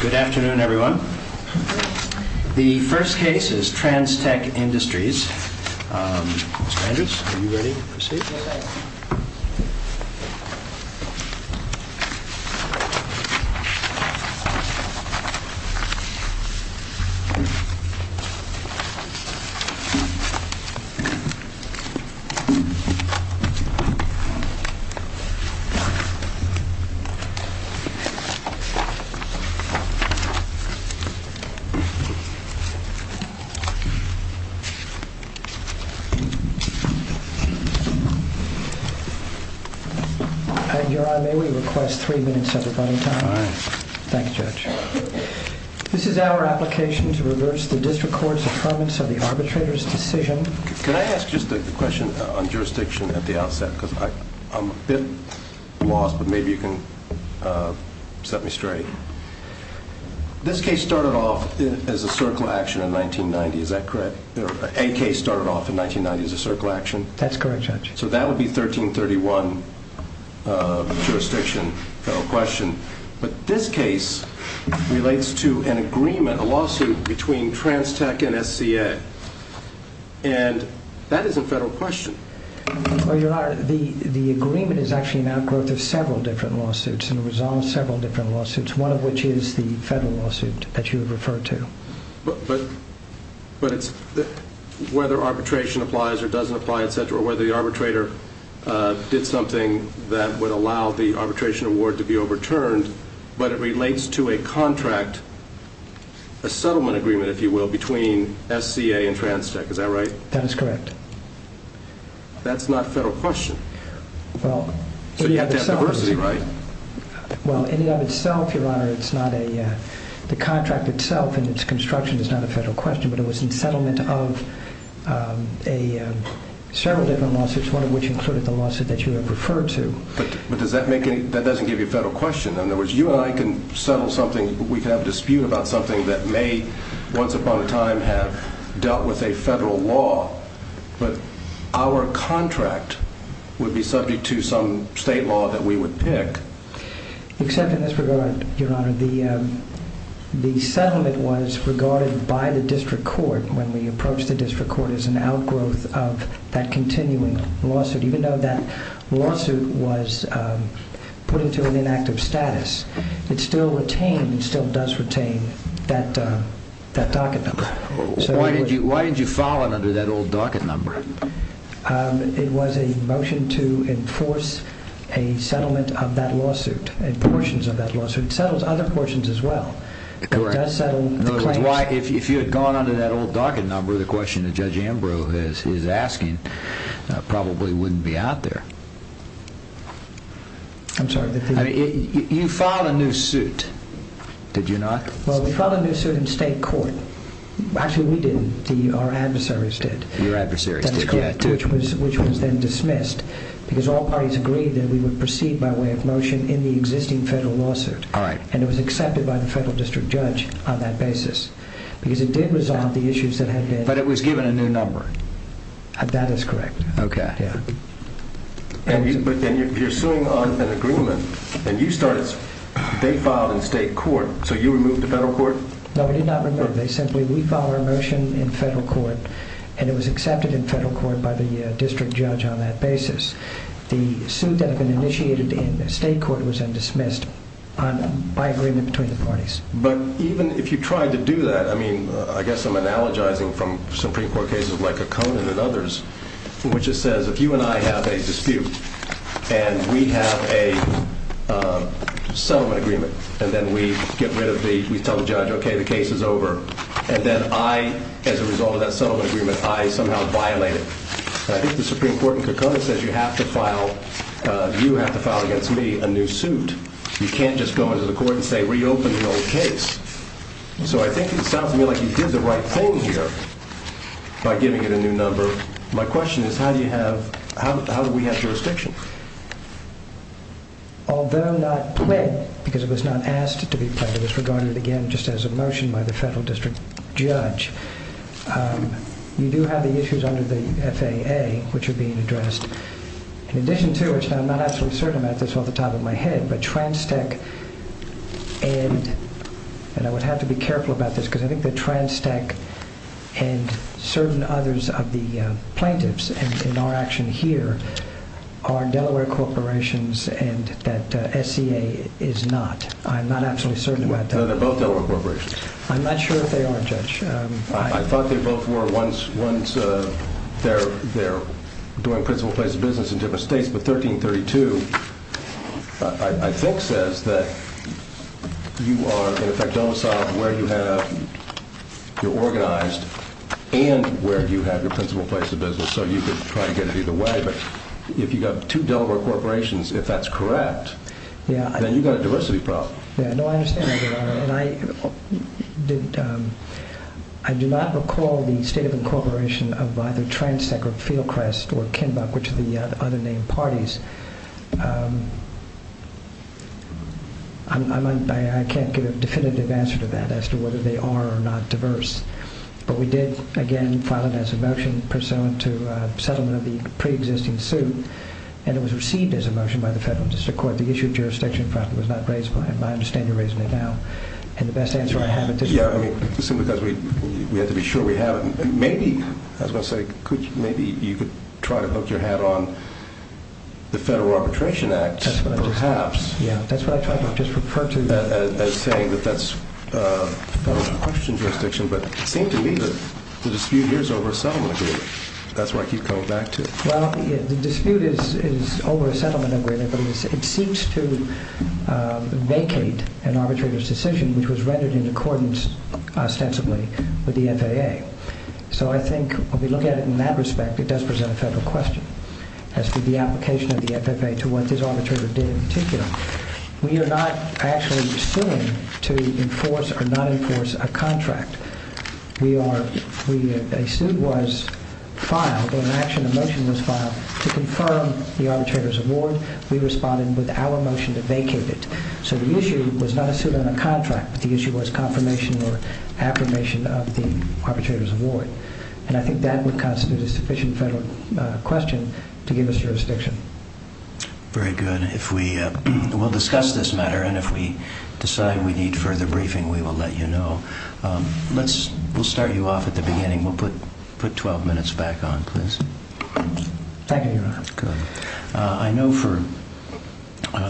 Good afternoon, everyone. The first case is TransTech Industries. Mr. Andrews, are you ready to proceed? I am. Your Honor, may we request three minutes of rebuttal time? All right. Thank you, Judge. This is our application to reverse the District Court's affirmance of the arbitrator's decision. Can I ask just a question on jurisdiction at the outset? Because I'm a bit lost, but maybe you can set me straight. This case started off as a circle action in 1990. Is that correct? A case started off in 1990 as a circle action. That's correct, Judge. So that would be 1331 jurisdiction, federal question. But this case relates to an agreement, a lawsuit, between TransTech and SCA. And that is a federal question. Your Honor, the agreement is actually an outgrowth of several different lawsuits, and it resolves several different lawsuits, one of which is the federal lawsuit that you have referred to. But it's whether arbitration applies or doesn't apply, et cetera, or whether the arbitrator did something that would allow the arbitration award to be overturned, but it relates to a contract, a settlement agreement, if you will, between SCA and TransTech. Is that right? That is correct. That's not a federal question. So you have to have diversity, right? Well, in and of itself, Your Honor, it's not a contract itself, and its construction is not a federal question, but it was in settlement of several different lawsuits, one of which included the lawsuit that you have referred to. But that doesn't give you a federal question. In other words, you and I can settle something. We can have a dispute about something that may, once upon a time, have dealt with a federal law. But our contract would be subject to some state law that we would pick. Except in this regard, Your Honor, the settlement was regarded by the district court when we approached the district court as an outgrowth of that continuing lawsuit. Even though that lawsuit was put into an inactive status, it still retained and still does retain that docket number. Why didn't you file it under that old docket number? It was a motion to enforce a settlement of that lawsuit, and portions of that lawsuit. It settles other portions as well. It does settle the claims. If you had gone under that old docket number, the question that Judge Ambrose is asking probably wouldn't be out there. I'm sorry. You filed a new suit, did you not? Well, we filed a new suit in state court. Actually, we didn't. Our adversaries did. Your adversaries did. Which was then dismissed, because all parties agreed that we would proceed by way of motion in the existing federal lawsuit, and it was accepted by the federal district judge on that basis, because it did resolve the issues that had been. But it was given a new number. That is correct. Okay. You're suing on an agreement, and they filed in state court, so you removed the federal court? No, we did not remove it. We filed our motion in federal court, and it was accepted in federal court by the district judge on that basis. The suit that had been initiated in state court was then dismissed by agreement between the parties. But even if you tried to do that, I mean, I guess I'm analogizing from Supreme Court cases like O'Connor and others, in which it says if you and I have a dispute and we have a settlement agreement, and then we get rid of the, we tell the judge, okay, the case is over, and then I, as a result of that settlement agreement, I somehow violate it. I think the Supreme Court in Kokona says you have to file, you have to file against me a new suit. You can't just go into the court and say reopen the old case. So I think it sounds to me like you did the right thing here by giving it a new number. My question is how do you have, how do we have jurisdiction? Although not pled, because it was not asked to be pled, it was regarded again just as a motion by the federal district judge. You do have the issues under the FAA which are being addressed. In addition to which, and I'm not absolutely certain about this off the top of my head, but Transtec and, and I would have to be careful about this because I think that Transtec and certain others of the plaintiffs in our action here are Delaware corporations and that SCA is not. I'm not absolutely certain about that. No, they're both Delaware corporations. I'm not sure if they are, Judge. I thought they both were once, once they're, they're doing principal place of business in different states. But 1332 I think says that you are in effect domiciled where you have your organized and where you have your principal place of business. So you could try to get it either way. But if you got two Delaware corporations, if that's correct, then you've got a diversity problem. Yeah, no, I understand. And I did, I do not recall the state of incorporation of either Transtec or Fieldcrest or Kenbuck, which are the other named parties. I can't give a definitive answer to that as to whether they are or not diverse, but we did again file it as a motion pursuant to a settlement of the preexisting suit. And it was received as a motion by the federal district court that the issue of jurisdiction, in fact, was not raised. And I understand you're raising it now. And the best answer I have at this point... Yeah, I mean, simply because we have to be sure we have it. Maybe, I was going to say, maybe you could try to hook your hat on the Federal Arbitration Act, perhaps. Yeah, that's what I tried to just refer to. As saying that that's federal question jurisdiction. But it seemed to me that the dispute here is over a settlement agreement. That's what I keep coming back to. Well, the dispute is over a settlement agreement, but it seems to vacate an arbitrator's decision, which was rendered in accordance ostensibly with the FAA. So I think when we look at it in that respect, it does present a federal question as to the application of the FAA to what this arbitrator did in particular. We are not actually suing to enforce or not enforce a contract. We are... A suit was filed, or an action, a motion was filed to confirm the arbitrator's award. We responded with our motion to vacate it. So the issue was not a suit on a contract, but the issue was confirmation or affirmation of the arbitrator's award. And I think that would constitute a sufficient federal question to give us jurisdiction. Very good. We'll discuss this matter, and if we decide we need further briefing, we will let you know. We'll start you off at the beginning. We'll put 12 minutes back on, please. Thank you, Your Honor. Good. I know for...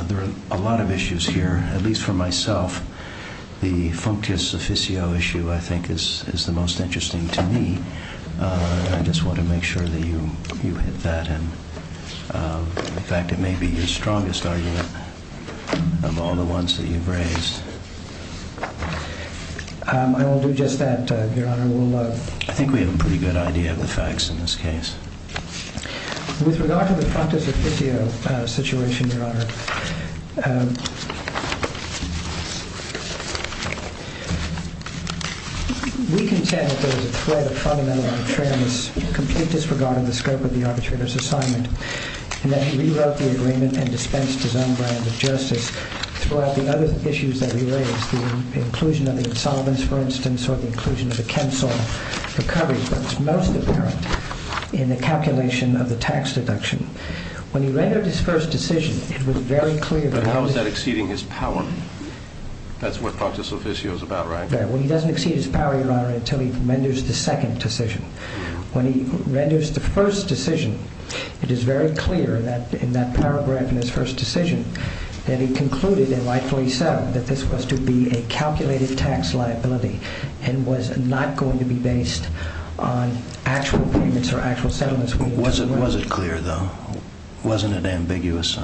There are a lot of issues here. At least for myself, the functus officio issue, I think, is the most interesting to me. I just want to make sure that you hit that. In fact, it may be your strongest argument of all the ones that you've raised. I will do just that, Your Honor. I think we have a pretty good idea of the facts in this case. With regard to the functus officio situation, Your Honor, we contend that there is a threat of fundamental arbitrariness, complete disregard of the scope of the arbitrator's assignment, and that he rewrote the agreement and dispensed his own brand of justice throughout the other issues that he raised, the inclusion of the insolvents, for instance, or the inclusion of a cancel recovery. That is what is most apparent in the calculation of the tax deduction. When he rendered his first decision, it was very clear that... But how is that exceeding his power? That's what functus officio is about, right? When he doesn't exceed his power, Your Honor, until he renders the second decision. When he renders the first decision, it is very clear in that paragraph in his first decision that he concluded and rightfully so that this was to be a calculated tax liability and was not going to be based on actual payments or actual settlements. Was it clear, though? Wasn't it ambiguous?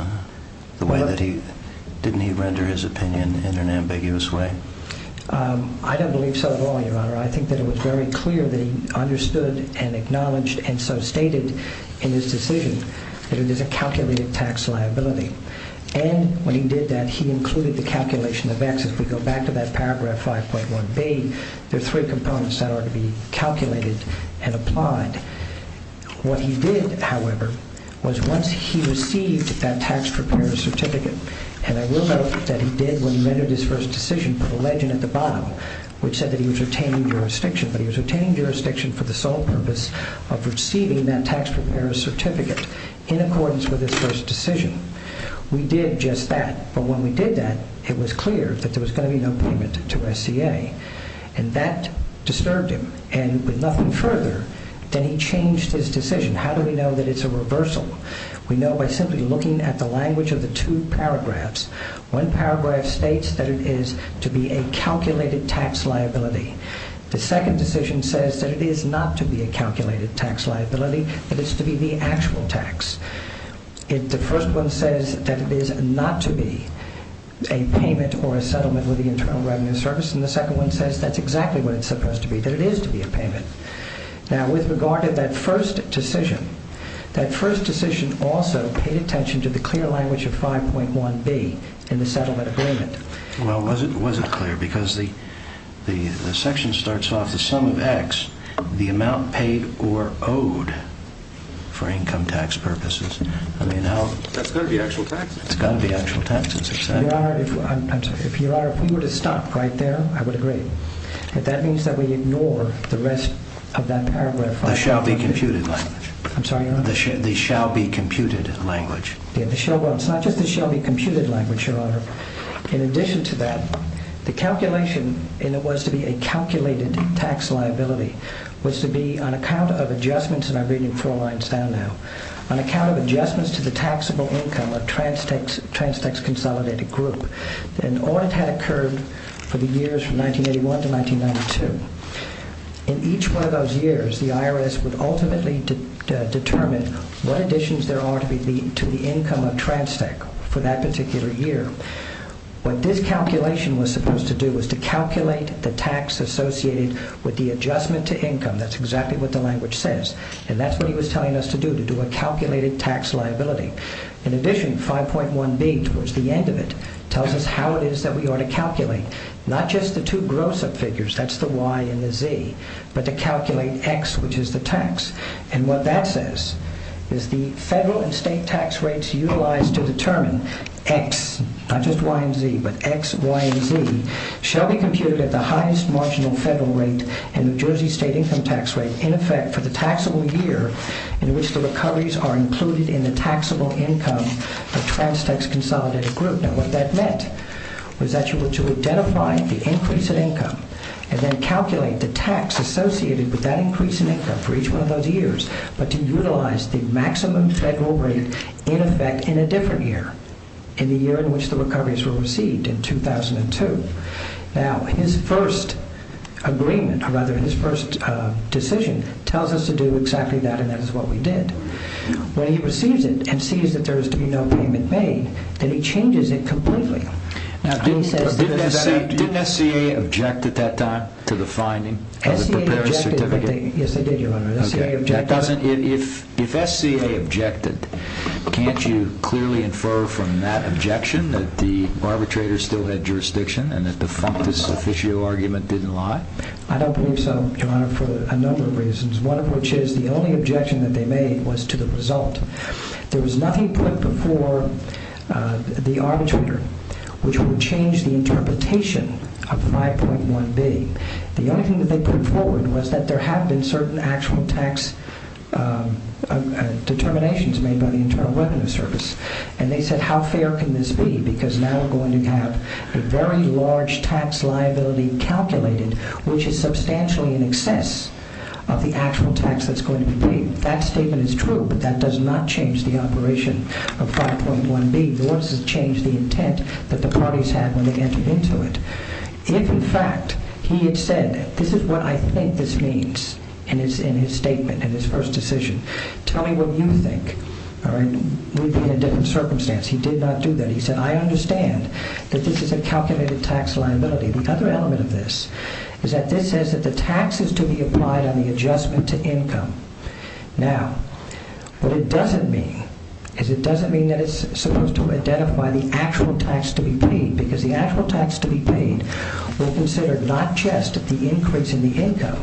The way that he... Didn't he render his opinion in an ambiguous way? I don't believe so at all, Your Honor. I think that it was very clear that he understood and acknowledged and so stated in his decision that it is a calculated tax liability. And when he did that, he included the calculation of X. If we go back to that paragraph 5.1b, there are three components that are to be calculated and applied. What he did, however, was once he received that tax preparer's certificate, and I will note that he did when he rendered his first decision put a legend at the bottom which said that he was retaining jurisdiction, but he was retaining jurisdiction for the sole purpose of receiving that tax preparer's certificate in accordance with his first decision. We did just that, but when we did that, it was clear that there was going to be no payment to SCA, and that disturbed him. And with nothing further, then he changed his decision. How do we know that it's a reversal? We know by simply looking at the language of the two paragraphs. One paragraph states that it is to be a calculated tax liability. The second decision says that it is not to be a calculated tax liability, that it's to be the actual tax. The first one says that it is not to be a payment or a settlement with the Internal Revenue Service, and the second one says that's exactly what it's supposed to be, that it is to be a payment. Now, with regard to that first decision, that first decision also paid attention to the clear language of 5.1b in the settlement agreement. Well, was it clear? Because the section starts off the sum of X, the amount paid or owed for income tax purposes. That's got to be actual tax. It's got to be actual tax. Your Honor, if we were to stop right there, I would agree. But that means that we ignore the rest of that paragraph. The shall be computed language. I'm sorry, Your Honor? The shall be computed language. It's not just the shall be computed language, Your Honor. In addition to that, the calculation, and it was to be a calculated tax liability, was to be on account of adjustments, and I'm reading four lines down now, on account of adjustments to the taxable income of Transtex Consolidated Group. An audit had occurred for the years from 1981 to 1992. In each one of those years, the IRS would ultimately determine what additions there are to the income of Transtex for that particular year. What this calculation was supposed to do was to calculate the tax associated with the adjustment to income. That's exactly what the language says, and that's what he was telling us to do, to do a calculated tax liability. In addition, 5.1b, towards the end of it, tells us how it is that we ought to calculate not just the two gross-up figures, that's the Y and the Z, but to calculate X, which is the tax. And what that says is the federal and state tax rates utilized to determine X, not just Y and Z, but X, Y, and Z, shall be computed at the highest marginal federal rate and New Jersey state income tax rate in effect for the taxable year in which the recoveries are included in the taxable income of Transtex Consolidated Group. Now, what that meant was that you were to identify the increase in income and then calculate the tax associated with that increase in income for each one of those years, but to utilize the maximum federal rate in effect in a different year, in the year in which the recoveries were received, in 2002. Now, his first agreement, or rather his first decision, tells us to do exactly that, and that is what we did. When he receives it and sees that there is to be no payment made, then he changes it completely. Now, didn't SCA object at that time to the finding of the preparing certificate? Yes, they did, Your Honor. If SCA objected, can't you clearly infer from that objection that the arbitrator still had jurisdiction and that the functus officio argument didn't lie? I don't believe so, Your Honor, for a number of reasons, one of which is the only objection that they made was to the result. There was nothing put before the arbitrator which would change the interpretation of 5.1b. The only thing that they put forward was that there have been certain actual tax determinations made by the Internal Revenue Service, and they said how fair can this be because now we're going to have a very large tax liability calculated which is substantially in excess of the actual tax that's going to be paid. That statement is true, but that does not change the operation of 5.1b. Nor does it change the intent that the parties had when they entered into it. If, in fact, he had said, this is what I think this means in his statement, in his first decision, tell me what you think, all right? We'd be in a different circumstance. He did not do that. He said I understand that this is a calculated tax liability. The other element of this is that this says that the tax is to be applied on the adjustment to income. Now, what it doesn't mean is it doesn't mean that it's supposed to identify the actual tax to be paid because the actual tax to be paid will consider not just the increase in the income,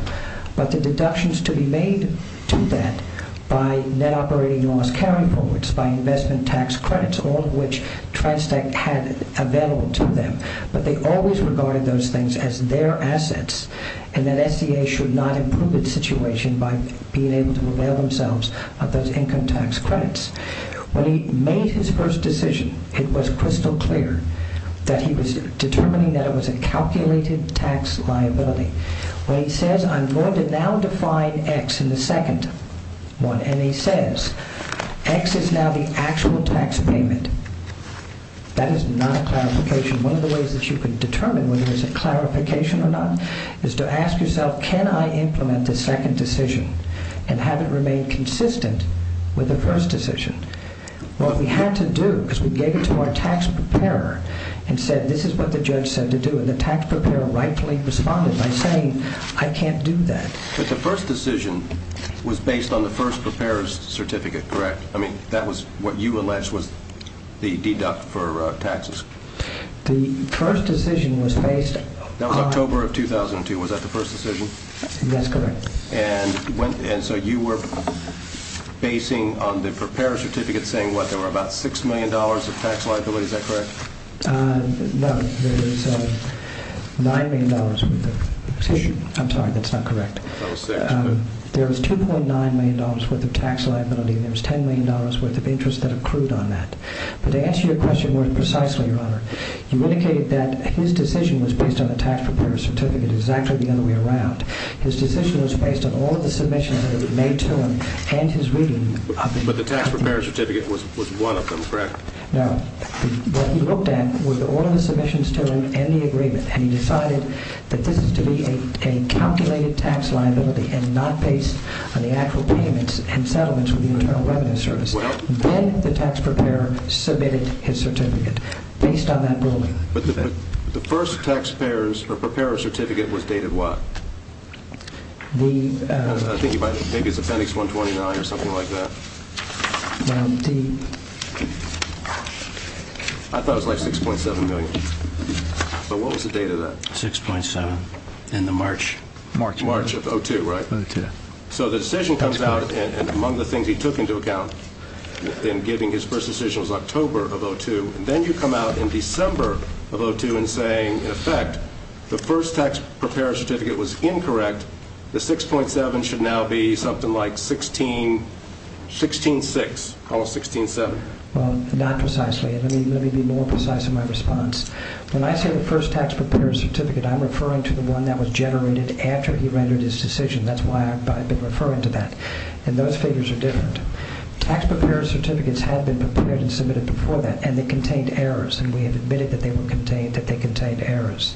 but the deductions to be made to that by net operating loss carry-forwards, by investment tax credits, all of which TRANSTEC had available to them. But they always regarded those things as their assets and that SEA should not improve its situation by being able to avail themselves of those income tax credits. When he made his first decision, it was crystal clear that he was determining that it was a calculated tax liability. When he says I'm going to now define X in the second one, and he says X is now the actual tax payment, that is not a clarification. One of the ways that you can determine whether it is a clarification or not is to ask yourself, can I implement the second decision and have it remain consistent with the first decision? What we had to do, because we gave it to our tax preparer and said this is what the judge said to do, and the tax preparer rightfully responded by saying I can't do that. But the first decision was based on the first preparer's certificate, correct? I mean, that was what you alleged was the deduct for taxes. The first decision was based on... That was October of 2002, was that the first decision? That's correct. And so you were basing on the preparer's certificate saying what, there were about $6 million of tax liability, is that correct? No, there was $9 million with the decision. I'm sorry, that's not correct. There was $2.9 million worth of tax liability and there was $10 million worth of interest that accrued on that. But to answer your question more precisely, Your Honor, you indicated that his decision was based on the tax preparer's certificate exactly the other way around. His decision was based on all of the submissions that were made to him and his reading... But the tax preparer's certificate was one of them, correct? No, what he looked at was all of the submissions to him and the agreement, and he decided that this is to be a calculated tax liability and not based on the actual payments and settlements with the Internal Revenue Service. Then the tax preparer submitted his certificate based on that ruling. But the first tax preparer's certificate was dated what? I think it was appendix 129 or something like that. I thought it was like $6.7 million. But what was the date of that? $6.7 in the March. March of 2002, right? So the decision comes out, and among the things he took into account in giving his first decision was October of 2002. Then you come out in December of 2002 and say, in effect, the first tax preparer's certificate was incorrect. The $6.7 should now be something like $16... $16.6, almost $16.7. Well, not precisely. Let me be more precise in my response. When I say the first tax preparer's certificate, I'm referring to the one that was generated after he rendered his decision. That's why I've been referring to that. And those figures are different. Tax preparer's certificates had been prepared and submitted before that, and they contained errors, and we have admitted that they contained errors.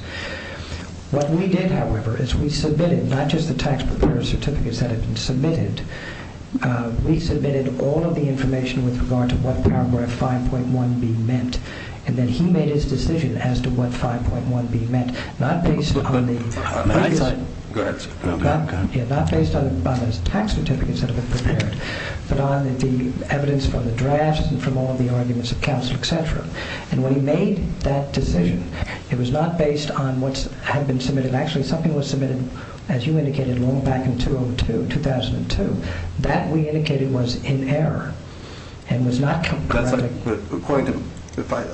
What we did, however, is we submitted not just the tax preparer's certificates that had been submitted. We submitted all of the information with regard to what Paragraph 5.1b meant, and then he made his decision as to what 5.1b meant, not based on the... Go ahead. Yeah, not based on the tax certificates that had been prepared, but on the evidence from the draft and from all of the arguments of counsel, etc. And when he made that decision, it was not based on what had been submitted. Actually, something was submitted, as you indicated, a little back in 2002. That, we indicated, was in error and was not... According to...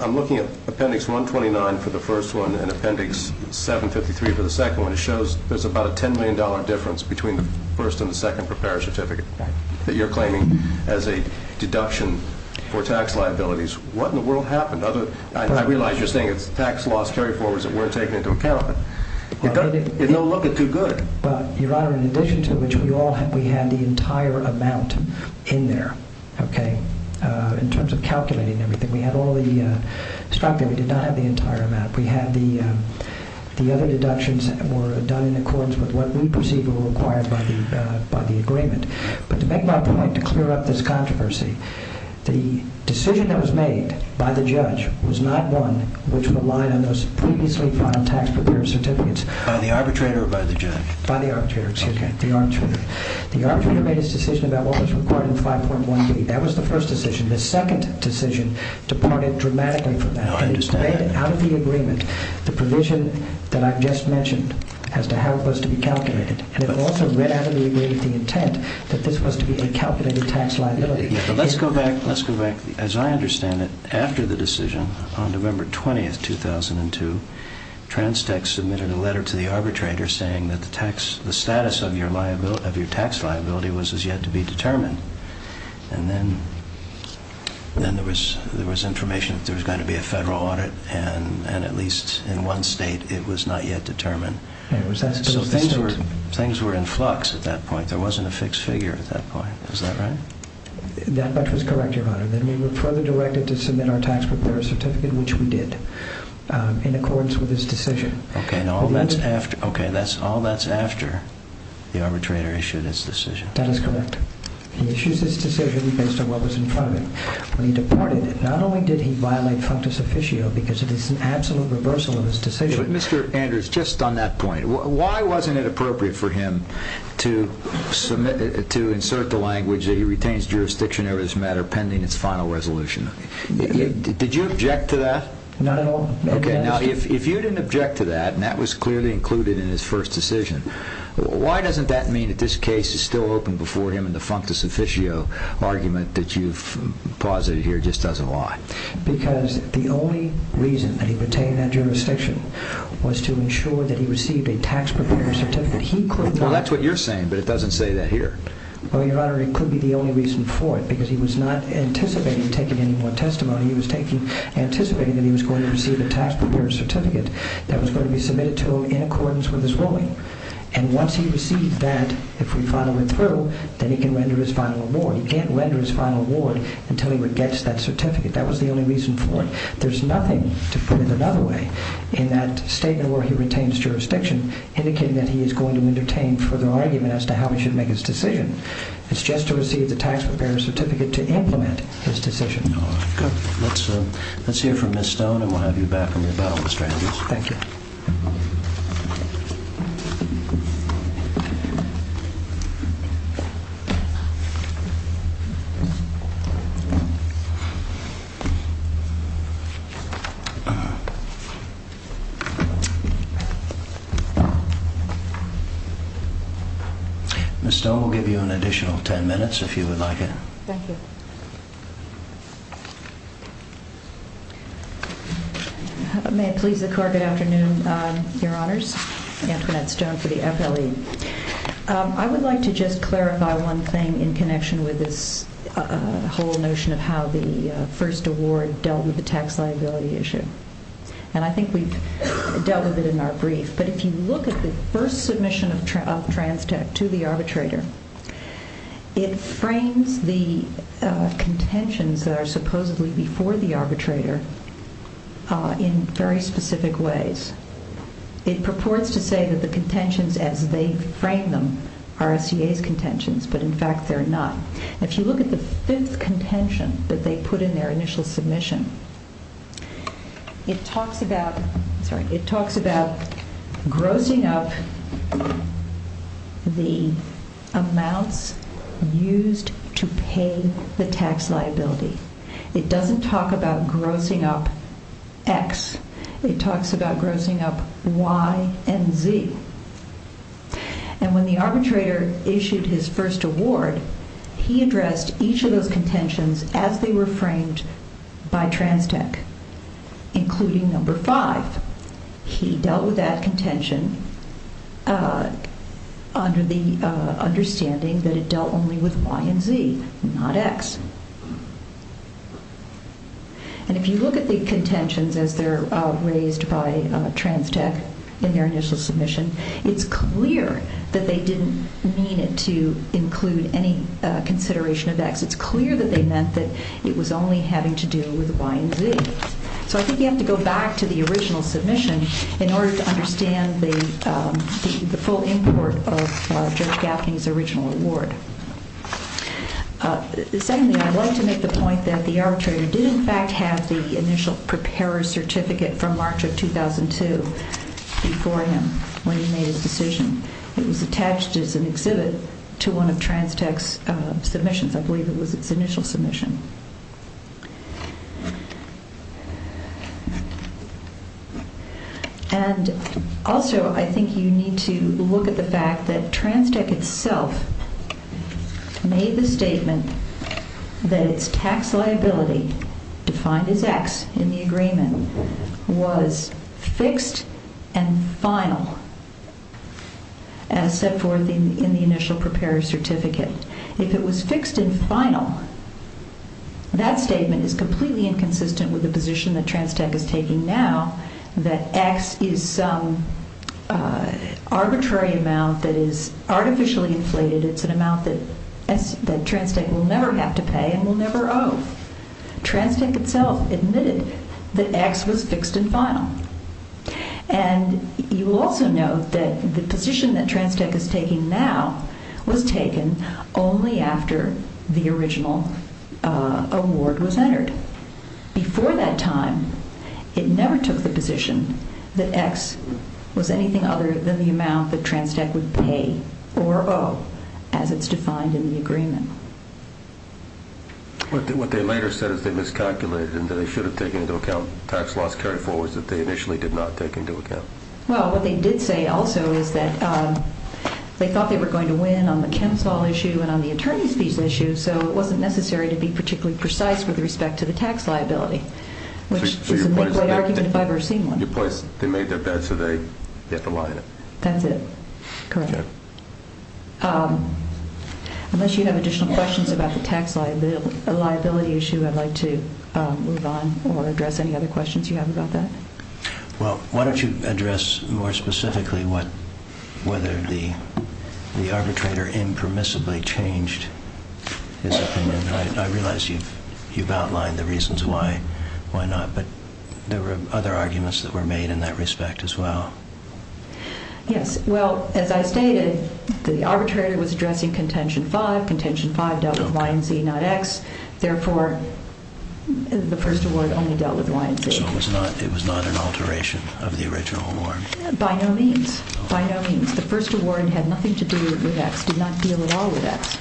I'm looking at Appendix 129 for the first one and Appendix 753 for the second one. It shows there's about a $10 million difference between the first and the second preparer's certificate that you're claiming as a deduction for tax liabilities. What in the world happened? I realize you're saying it's tax-loss carry-forwards that weren't taken into account, but it doesn't look too good. Well, Your Honor, in addition to which, we had the entire amount in there, okay, in terms of calculating everything. We had all the... We did not have the entire amount. We had the other deductions that were done in accordance with what we perceived were required by the agreement. But to make my point, to clear up this controversy, the decision that was made by the judge was not one which relied on those previously filed tax preparer certificates. By the arbitrator or by the judge? By the arbitrator, excuse me, the arbitrator. The arbitrator made his decision about what was required in 5.1b. That was the first decision. The second decision departed dramatically from that. Now, I understand that. It read out of the agreement the provision that I've just mentioned as to how it was to be calculated. And it also read out of the agreement the intent that this was to be a calculated tax liability. Yeah, but let's go back, let's go back. As I understand it, after the decision, on November 20, 2002, TransTex submitted a letter to the arbitrator saying that the status of your tax liability was as yet to be determined. And then there was information that there was going to be a federal audit, and at least in one state it was not yet determined. So things were in flux at that point. There wasn't a fixed figure at that point. Is that right? That much was correct, Your Honor. Then we were further directed to submit our tax preparer certificate, which we did, in accordance with his decision. Okay, and all that's after, okay, all that's after the arbitrator issued his decision. That is correct. He issues his decision based on what was in front of him. When he departed, not only did he violate functus officio because it is an absolute reversal of his decision... But, Mr. Andrews, just on that point, why wasn't it appropriate for him to insert the language that he retains jurisdiction over this matter pending its final resolution? Did you object to that? Not at all. Okay, now, if you didn't object to that, and that was clearly included in his first decision, why doesn't that mean that this case is still open before him and the functus officio argument that you've posited here just doesn't lie? Because the only reason that he retained that jurisdiction was to ensure that he received a tax preparer certificate. He could not... Well, that's what you're saying, but it doesn't say that here. Well, Your Honor, it could be the only reason for it because he was not anticipating taking any more testimony. He was anticipating that he was going to receive a tax preparer certificate that was going to be submitted to him in accordance with his ruling, and once he received that, if we follow it through, then he can render his final award. He can't render his final award until he gets that certificate. That was the only reason for it. There's nothing to put it another way in that statement where he retains jurisdiction indicating that he is going to entertain further argument as to how he should make his decision. It's just to receive the tax preparer certificate to implement his decision. Thank you, Your Honor. Good. Let's hear from Ms. Stone, and we'll have you back from your bow, Mr. Andrews. Thank you. Ms. Stone, we'll give you an additional 10 minutes if you would like it. Thank you. May it please the Court, good afternoon, Your Honors. Antoinette Stone for the FLE. I would like to just clarify one thing in connection with this whole notion of how the first award dealt with the tax liability issue, and I think we've dealt with it in our brief, but if you look at the first submission of Transtech to the arbitrator, it frames the contentions that are supposedly before the arbitrator in very specific ways. It purports to say that the contentions as they frame them are SEA's contentions, but in fact they're not. If you look at the fifth contention that they put in their initial submission, it talks about grossing up the amounts used to pay the tax liability. It doesn't talk about grossing up X. It talks about grossing up Y and Z. And when the arbitrator issued his first award, he addressed each of those contentions as they were framed by Transtech, including number 5. He dealt with that contention under the understanding that it dealt only with Y and Z, not X. And if you look at the contentions as they're raised by Transtech in their initial submission, it's clear that they didn't mean it to include any consideration of X. It's clear that they meant that it was only having to do with Y and Z. So I think you have to go back to the original submission in order to understand the full import of Judge Gaffney's original award. Secondly, I'd like to make the point that the arbitrator did, in fact, have the initial preparer's certificate from March of 2002 before him when he made his decision. It was attached as an exhibit to one of Transtech's submissions. I believe it was its initial submission. And also, I think you need to look at the fact that Transtech itself made the statement that its tax liability, defined as X in the agreement, was fixed and final as set forth in the initial preparer's certificate. If it was fixed and final, that statement is completely inconsistent with the position that Transtech is taking now, that X is some arbitrary amount that is artificially inflated. It's an amount that Transtech will never have to pay and will never owe. Transtech itself admitted that X was fixed and final. And you also note that the position that Transtech is taking now was taken only after the original award was entered. Before that time, it never took the position that X was anything other than the amount that Transtech would pay or owe, as it's defined in the agreement. What they later said is they miscalculated and that they should have taken into account tax loss carried forward that they initially did not take into account. Well, what they did say also is that they thought they were going to win on the Kemps law issue and on the attorney's fees issue, so it wasn't necessary to be particularly precise with respect to the tax liability, which is a great argument if I've ever seen one. They made that bet, so they have to lie in it. That's it. Correct. Unless you have additional questions about the tax liability issue, I'd like to move on or address any other questions you have about that. Well, why don't you address more specifically whether the arbitrator impermissibly changed his opinion? I realize you've outlined the reasons why not, but there were other arguments that were made in that respect as well. Yes, well, as I stated, the arbitrator was addressing contention five. Contention five dealt with Y and Z, not X. Therefore, the first award only dealt with Y and Z. So it was not an alteration of the original award? By no means. By no means. The first award had nothing to do with X, did not deal at all with X.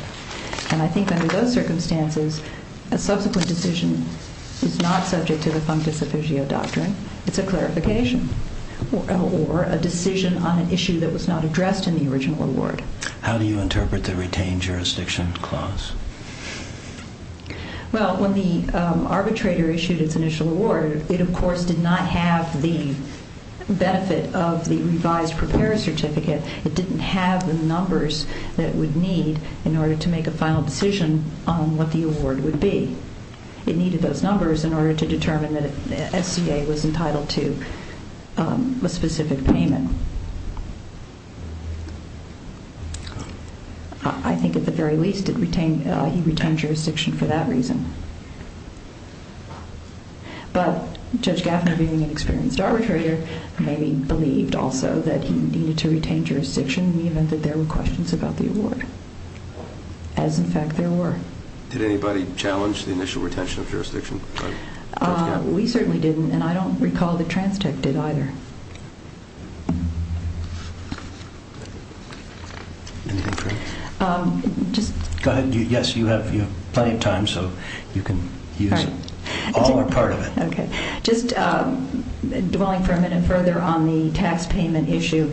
And I think under those circumstances, a subsequent decision is not subject to the functus officio doctrine. It's a clarification or a decision on an issue that was not addressed in the original award. How do you interpret the retained jurisdiction clause? Well, when the arbitrator issued its initial award, it of course did not have the benefit of the revised prepared certificate. It didn't have the numbers that it would need in order to make a final decision on what the award would be. It needed those numbers in order to determine that SCA was entitled to a specific payment. I think at the very least, he retained jurisdiction for that reason. But Judge Gaffner, being an experienced arbitrator, maybe believed also that he needed to retain jurisdiction, even if there were questions about the award, as in fact there were. Did anybody challenge the initial retention of jurisdiction? We certainly didn't, and I don't recall that TransTech did either. Anything further? Go ahead. Yes, you have plenty of time. So you can use all or part of it. Okay. Just dwelling for a minute further on the tax payment issue,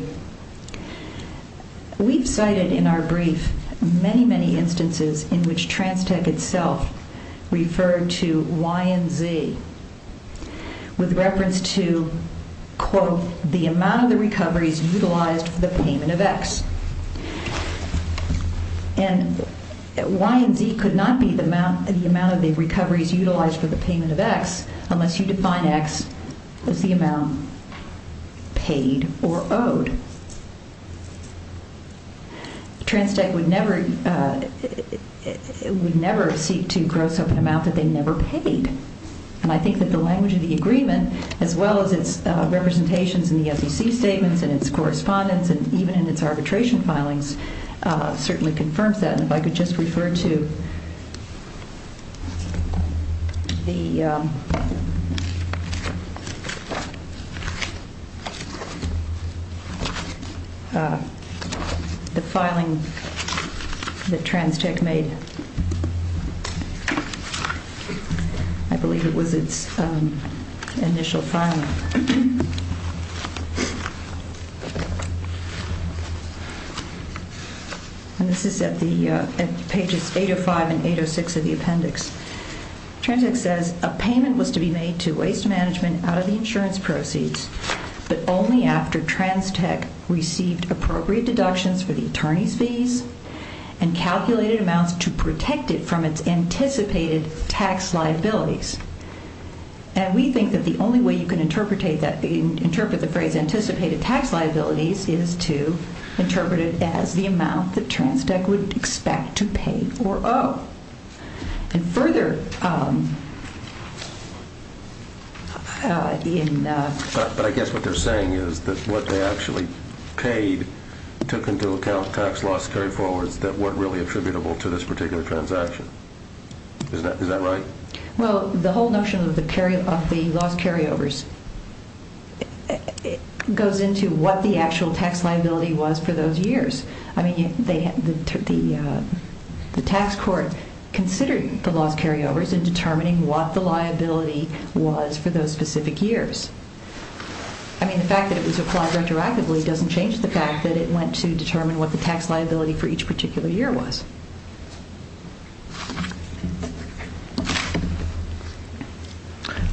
we've cited in our brief many, many instances in which TransTech itself referred to Y and Z with reference to, quote, the amount of the recoveries utilized for the payment of X. And Y and Z could not be the amount of the recoveries utilized for the payment of X unless you define X as the amount paid or owed. TransTech would never seek to gross up an amount that they never paid. And I think that the language of the agreement, as well as its representations in the SEC statements and its correspondence, and even in its arbitration filings, certainly confirms that. And if I could just refer to the filing that TransTech made. I believe it was its initial filing. And this is at the pages 805 and 806 of the appendix. TransTech says, a payment was to be made to Waste Management out of the insurance proceeds, but only after TransTech received appropriate deductions for the attorney's fees and calculated amounts to protect it from its anticipated tax liabilities. And we think that the only way you can interpret that, interpret the phrase anticipated tax liabilities is to interpret it as the amount that TransTech would expect to pay or owe. And further... But I guess what they're saying is that what they actually paid took into account tax loss carry-forwards that weren't really attributable to this particular transaction. Is that right? Well, the whole notion of the loss carry-overs goes into what the actual tax liability was for those years. I mean, the tax court considered the loss carry-overs in determining what the liability was for those specific years. I mean, the fact that it was applied retroactively doesn't change the fact that it went to determine what the tax liability for each particular year was.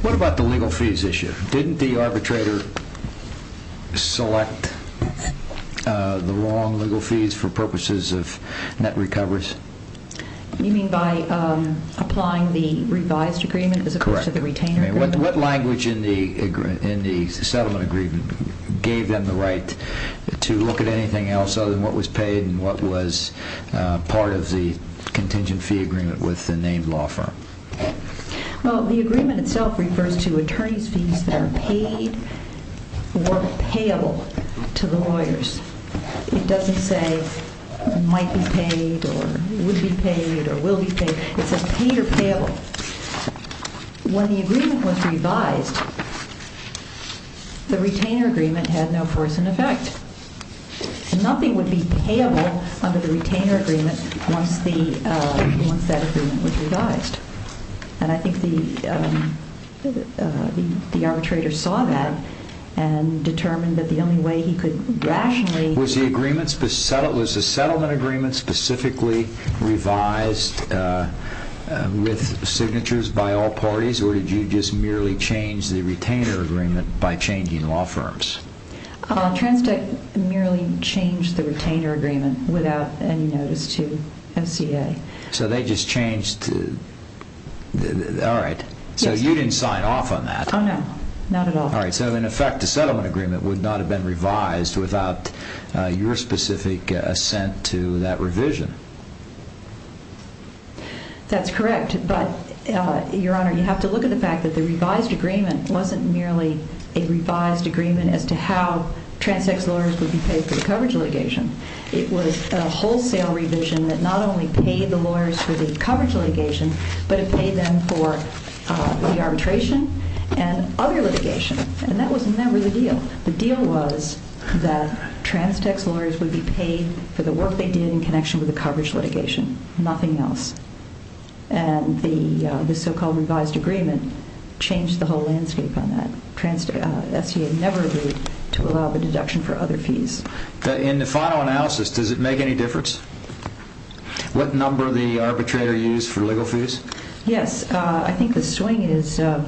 What about the legal fees issue? Didn't the arbitrator select the wrong legal fees for purposes of net recovers? You mean by applying the revised agreement as opposed to the retained agreement? Correct. What language in the settlement agreement gave them the right to look at anything else other than what was paid and what was part of the settlement agreement? What was part of the contingent fee agreement with the named law firm? Well, the agreement itself refers to attorney's fees that are paid or payable to the lawyers. It doesn't say might be paid or would be paid or will be paid. It says paid or payable. When the agreement was revised, the retainer agreement had no force in effect. Nothing would be payable under the retainer agreement once that agreement was revised. And I think the arbitrator saw that and determined that the only way he could rationally... Was the settlement agreement specifically revised with signatures by all parties or did you just merely change the retainer agreement by changing law firms? TransTech merely changed the retainer agreement without any notice to MCA. So they just changed... All right. So you didn't sign off on that. Oh, no. Not at all. All right. So, in effect, the settlement agreement would not have been revised without your specific assent to that revision. That's correct. But, Your Honor, you have to look at the fact that the revised agreement wasn't merely a revised agreement as to how TransTech's lawyers would be paid for the coverage litigation. It was a wholesale revision that not only paid the lawyers for the coverage litigation, but it paid them for the arbitration and other litigation. And that was never the deal. The deal was that TransTech's lawyers would be paid for the work they did in connection with the coverage litigation. Nothing else. And the so-called revised agreement changed the whole landscape on that. STA never agreed to allow the deduction for other fees. In the final analysis, does it make any difference what number the arbitrator used for legal fees? Yes. I think the swing is some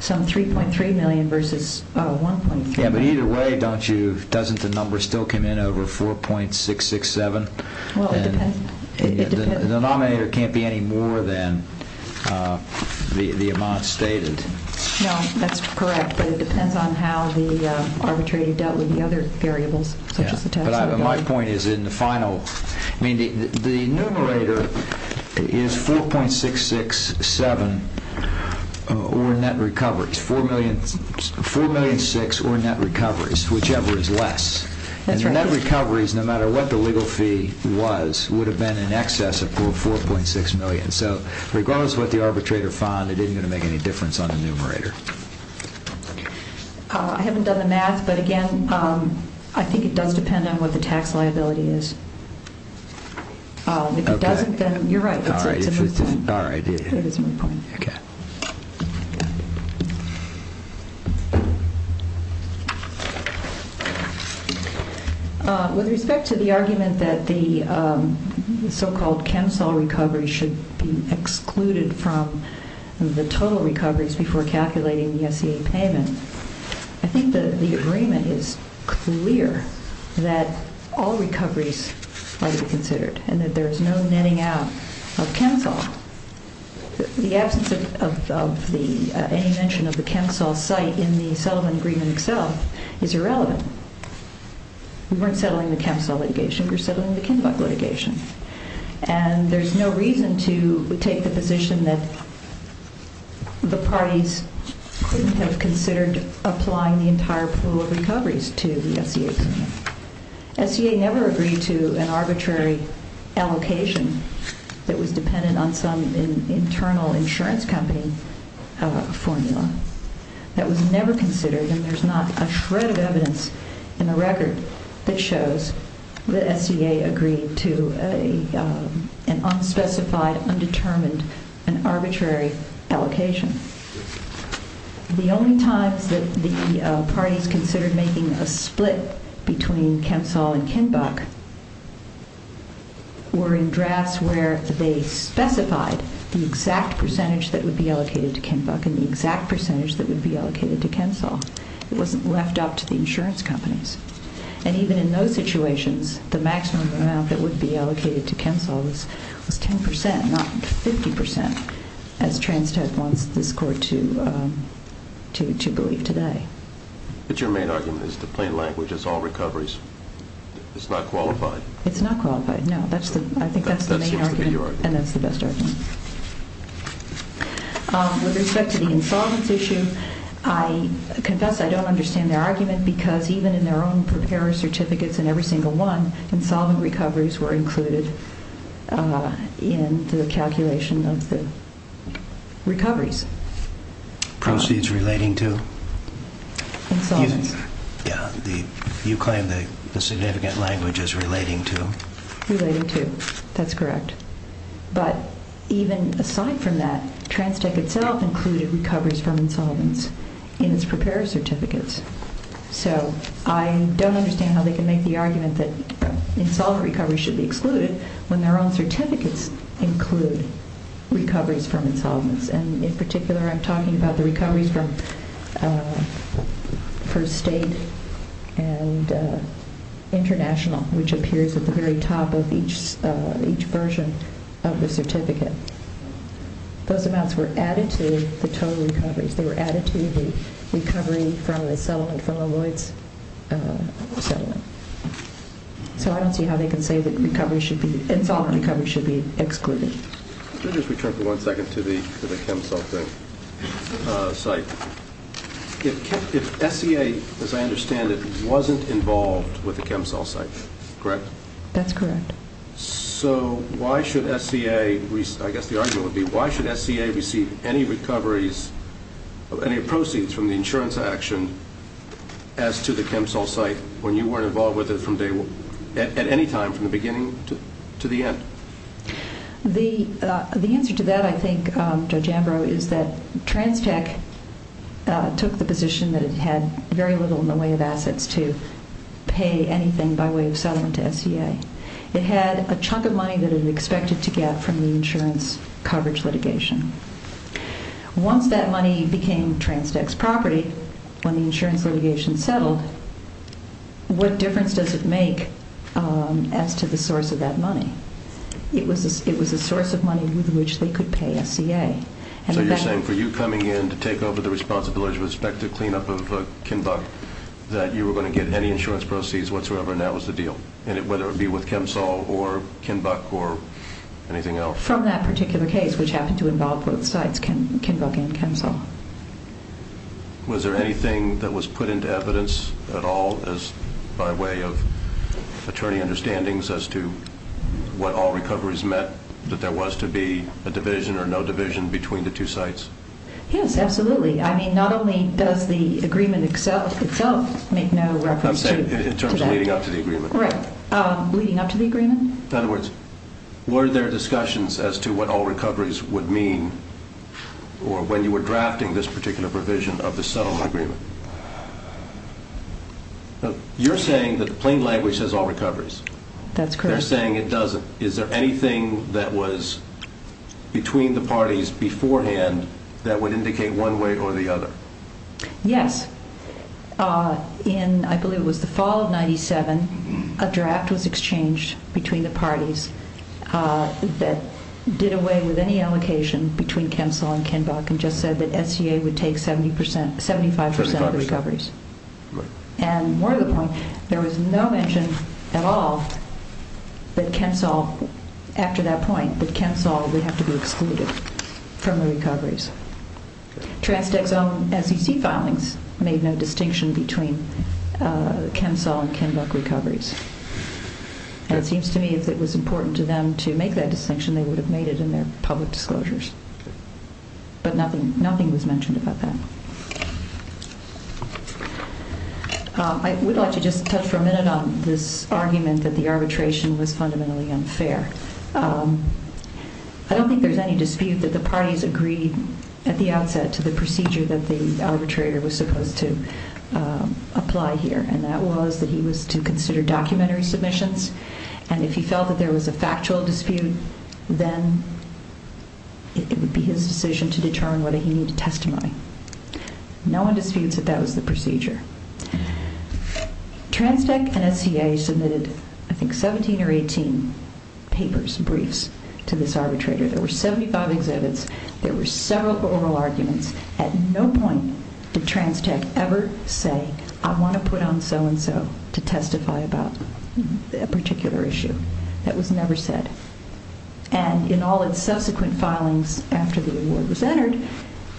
$3.3 million versus $1.3 million. Yeah, but either way, don't you... Doesn't the number still come in over $4.667? Well, it depends. The denominator can't be any more than the amount stated. No, that's correct. But it depends on how the arbitrator dealt with the other variables, such as the tax... But my point is in the final... I mean, the numerator is $4.667 or net recoveries, $4.6 million or net recoveries, whichever is less. And the net recoveries, no matter what the legal fee was, would have been in excess of $4.6 million. So regardless of what the arbitrator found, it isn't going to make any difference on the numerator. I haven't done the math, but again, I think it does depend on what the tax liability is. If it doesn't, then you're right. All right. That is my point. Okay. With respect to the argument that the so-called KEMSOL recovery should be excluded from the total recoveries before calculating the SCA payment, I think the agreement is clear that all recoveries are to be considered and that there is no netting out of KEMSOL. The absence of all netting out of KEMSOL of any mention of the KEMSOL site in the settlement agreement itself is irrelevant. We weren't settling the KEMSOL litigation. We were settling the Kinbuck litigation. And there's no reason to take the position that the parties couldn't have considered applying the entire pool of recoveries to the SCA payment. SCA never agreed to an arbitrary allocation that was dependent on some internal insurance company formula that was never considered, and there's not a shred of evidence in the record that shows that SCA agreed to an unspecified, undetermined, and arbitrary allocation. The only times that the parties considered making a split between KEMSOL and Kinbuck were in drafts where they specified the exact percentage that would be allocated to Kinbuck and the exact percentage that would be allocated to KEMSOL. It wasn't left up to the insurance companies. And even in those situations, the maximum amount that would be allocated to KEMSOL was 10%, not 50%, as Transtad wants this Court to believe today. But your main argument is the plain language is all recoveries. It's not qualified. It's not qualified, no. I think that's the main argument, and that's the best argument. With respect to the insolvency issue, I confess I don't understand their argument because even in their own preparer certificates in every single one, insolvent recoveries were included in the calculation of the recoveries. Proceeds relating to? Insolvency. You claim the significant language is relating to? Relating to, that's correct. But even aside from that, Transtad itself included recoveries from insolvency in its preparer certificates. So I don't understand how they can make the argument that insolvent recoveries should be excluded when their own certificates include recoveries from insolvency. And in particular, I'm talking about the recoveries from First State and International, which appears at the very top of each version of the certificate. Those amounts were added to the total recoveries. They were added to the recovery from a settlement, from a Lloyds settlement. So I don't see how they can say that insolvent recoveries should be excluded. Let me just return for one second to the ChemSol site. If SCA, as I understand it, wasn't involved with the ChemSol site, correct? That's correct. So why should SCA, I guess the argument would be, why should SCA receive any recoveries, any proceeds from the insurance action as to the ChemSol site when you weren't involved with it at any time from the beginning to the end? The answer to that, I think, Judge Ambrose, is that TransTech took the position that it had very little in the way of assets to pay anything by way of settlement to SCA. It had a chunk of money that it expected to get from the insurance coverage litigation. Once that money became TransTech's property, when the insurance litigation settled, what difference does it make as to the source of that money? It was a source of money with which they could pay SCA. So you're saying for you coming in to take over the responsibility with respect to cleanup of Kinbuck that you were going to get any insurance proceeds whatsoever, and that was the deal, whether it be with ChemSol or Kinbuck or anything else? From that particular case, which happened to involve both sites, Kinbuck and ChemSol. Was there anything that was put into evidence at all by way of attorney understandings as to what all recoveries meant, that there was to be a division or no division between the two sites? Yes, absolutely. I mean, not only does the agreement itself make no reference to that. I'm saying in terms of leading up to the agreement. Right. Leading up to the agreement? In other words, were there discussions as to what all recoveries would mean when you were drafting this particular provision of the settlement agreement? You're saying that the plain language says all recoveries. That's correct. They're saying it doesn't. Is there anything that was between the parties beforehand that would indicate one way or the other? Yes. In, I believe it was the fall of 1997, a draft was exchanged between the parties that did away with any allocation between ChemSol and Kinbuck and just said that SEA would take 75 percent of the recoveries. Right. And more to the point, there was no mention at all that ChemSol, after that point, that ChemSol would have to be excluded from the recoveries. Transdex's own SEC filings made no distinction between ChemSol and Kinbuck recoveries. And it seems to me if it was important to them to make that distinction, they would have made it in their public disclosures. But nothing was mentioned about that. I would like to just touch for a minute on this argument that the arbitration was fundamentally unfair. I don't think there's any dispute that the parties agreed at the outset to the procedure that the arbitrator was supposed to apply here, and that was that he was to consider documentary submissions, and if he felt that there was a factual dispute, then it would be his decision to determine whether he needed testimony. No one disputes that that was the procedure. Transdex and SEA submitted, I think, 17 or 18 papers, briefs, to this arbitrator. There were 75 exhibits. There were several oral arguments. At no point did Transdex ever say, I want to put on so-and-so to testify about a particular issue. That was never said. And in all its subsequent filings after the award was entered,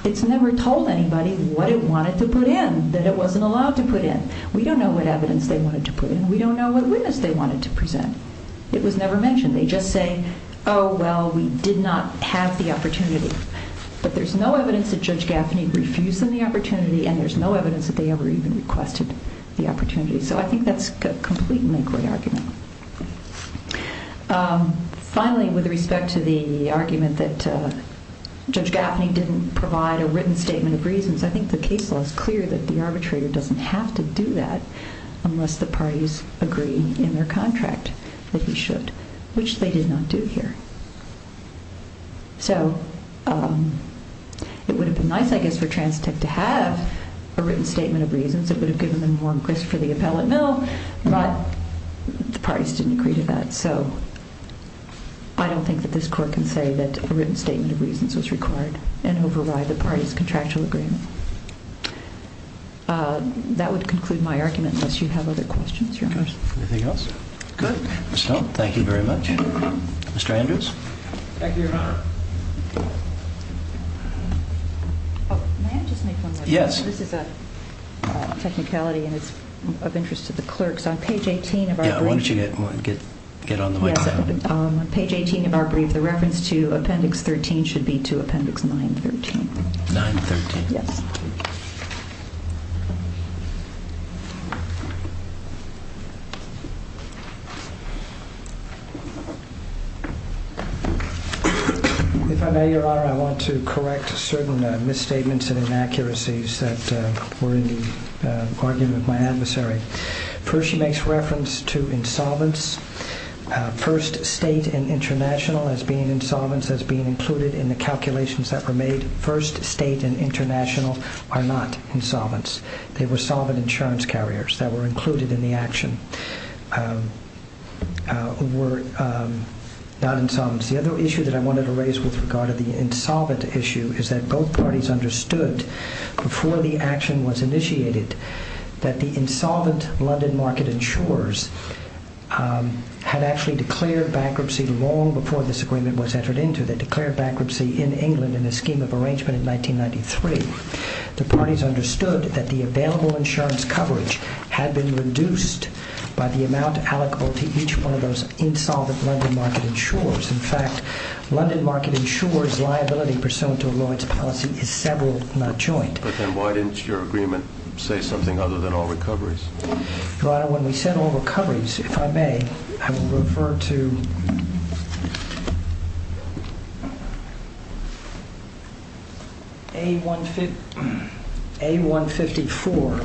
it's never told anybody what it wanted to put in, that it wasn't allowed to put in. We don't know what evidence they wanted to put in. We don't know what witness they wanted to present. It was never mentioned. They just say, oh, well, we did not have the opportunity. But there's no evidence that Judge Gaffney refused them the opportunity, and there's no evidence that they ever even requested the opportunity. So I think that's a completely agreed argument. Finally, with respect to the argument that Judge Gaffney didn't provide a written statement of reasons, I think the case law is clear that the arbitrator doesn't have to do that unless the parties agree in their contract that he should, which they did not do here. So it would have been nice, I guess, for TransTech to have a written statement of reasons. It would have given them more impress for the appellate mill, but the parties didn't agree to that. So I don't think that this Court can say that a written statement of reasons was required and override the parties' contractual agreement. That would conclude my argument, unless you have other questions, Your Honor. Anything else? Good. Thank you very much. Mr. Andrews? Thank you, Your Honor. May I just make one more point? Yes. This is a technicality, and it's of interest to the clerks. On page 18 of our brief, the reference to Appendix 13 should be to Appendix 913. 913. Yes. If I may, Your Honor, I want to correct certain misstatements and inaccuracies that were in the argument of my adversary. First, she makes reference to insolvents. First State and International as being insolvents as being included in the calculations that were made. First State and International are not insolvents. They were solvent insurance carriers that were included in the action. They were not insolvents. The other issue that I wanted to raise with regard to the insolvent issue is that both parties understood before the action was initiated that the insolvent London Market insurers had actually declared bankruptcy long before this agreement was entered into. They declared bankruptcy in England in a scheme of arrangement in 1993. The parties understood that the available insurance coverage had been reduced by the amount allocable to each one of those insolvent London Market insurers. In fact, London Market insurers' liability pursuant to a Lawrence policy is several, not joint. But then why didn't your agreement say something other than all recoveries? Your Honor, when we said all recoveries, if I may, I will refer to A154,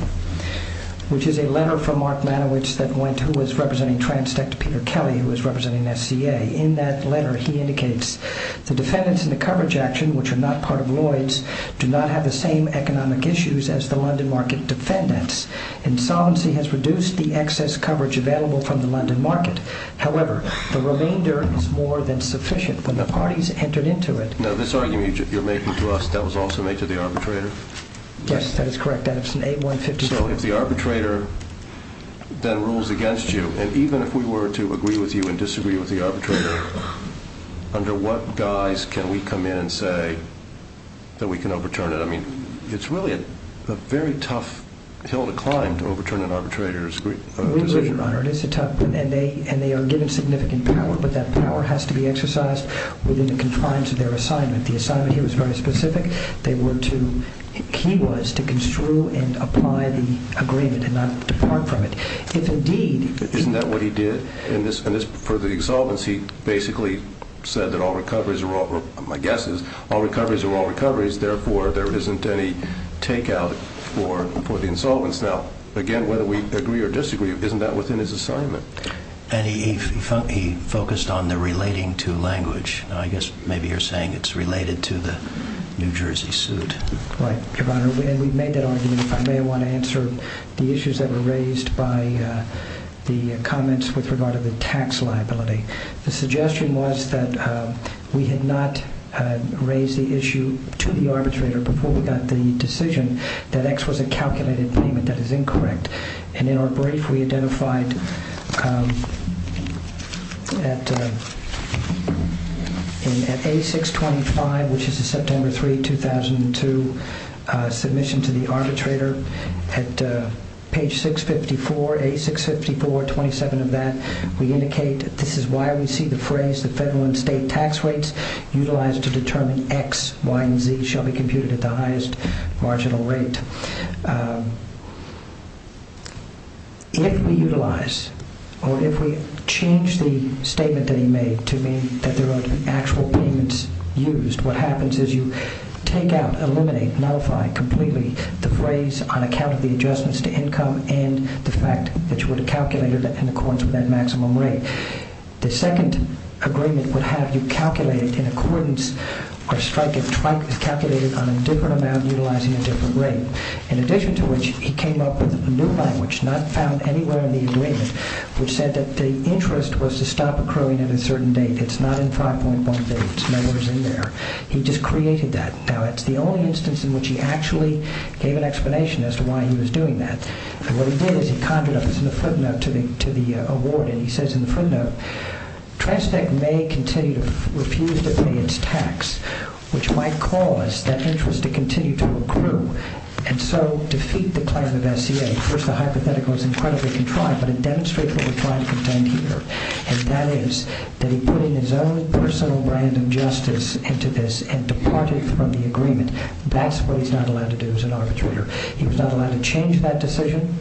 which is a letter from Mark Manowitz that went to who was representing TransTech to Peter Kelly, who was representing SCA. In that letter, he indicates, the defendants in the coverage action, which are not part of Lloyd's, do not have the same economic issues as the London Market defendants. Insolvency has reduced the excess coverage available from the London Market. However, the remainder is more than sufficient when the parties entered into it. Now, this argument you're making to us, that was also made to the arbitrator? Yes, that is correct. That is in A154. So if the arbitrator then rules against you, and even if we were to agree with you and disagree with the arbitrator, under what guise can we come in and say that we can overturn it? I mean, it's really a very tough hill to climb to overturn an arbitrator's decision. It really is, Your Honor, and they are given significant power, but that power has to be exercised within the confines of their assignment. The assignment here was very specific. The key was to construe and apply the agreement and not depart from it. Isn't that what he did? For the exsolvency, he basically said that all recoveries, my guess is, all recoveries are all recoveries, therefore there isn't any take-out for the insolvents. Now, again, whether we agree or disagree, isn't that within his assignment? And he focused on the relating to language. I guess maybe you're saying it's related to the New Jersey suit. Right, Your Honor, and we've made that argument. If I may, I want to answer the issues that were raised by the comments with regard to the tax liability. The suggestion was that we had not raised the issue to the arbitrator before we got the decision that X was a calculated payment that is incorrect. And in our brief, we identified at A625, which is a September 3, 2002, submission to the arbitrator, at page 654, A654, 27 of that, we indicate that this is why we see the phrase, the federal and state tax rates utilized to determine X, Y, and Z shall be computed at the highest marginal rate. If we utilize or if we change the statement that he made to mean that there are actual payments used, what happens is you take out, eliminate, nullify completely the phrase on account of the adjustments to income and the fact that you would have calculated it in accordance with that maximum rate. The second agreement would have you calculate it in accordance or strike it, calculate it on a different amount utilizing a different rate. In addition to which, he came up with a new language not found anywhere in the agreement which said that the interest was to stop accruing at a certain date. It's not in 5.1 days. It's nowhere in there. He just created that. Now, it's the only instance in which he actually gave an explanation as to why he was doing that. What he did is he conjured up this in a footnote to the award, and he says in the footnote, Transpac may continue to refuse to pay its tax, which might cause that interest to continue to accrue and so defeat the claim of SCA. First, the hypothetical is incredibly contrived, but it demonstrates what we're trying to contend here, and that is that he put in his own personal brand of justice into this and departed from the agreement. That's what he's not allowed to do as an arbitrator. He was not allowed to change that decision,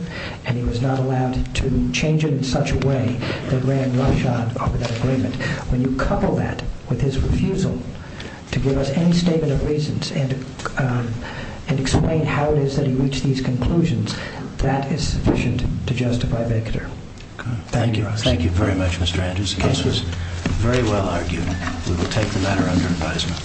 and he was not allowed to change it in such a way that ran roughshod over that agreement. When you couple that with his refusal to give us any statement of reasons and explain how it is that he reached these conclusions, that is sufficient to justify Victor. Thank you. Thank you very much, Mr. Andrews. This was very well argued. We will take the matter under advisement.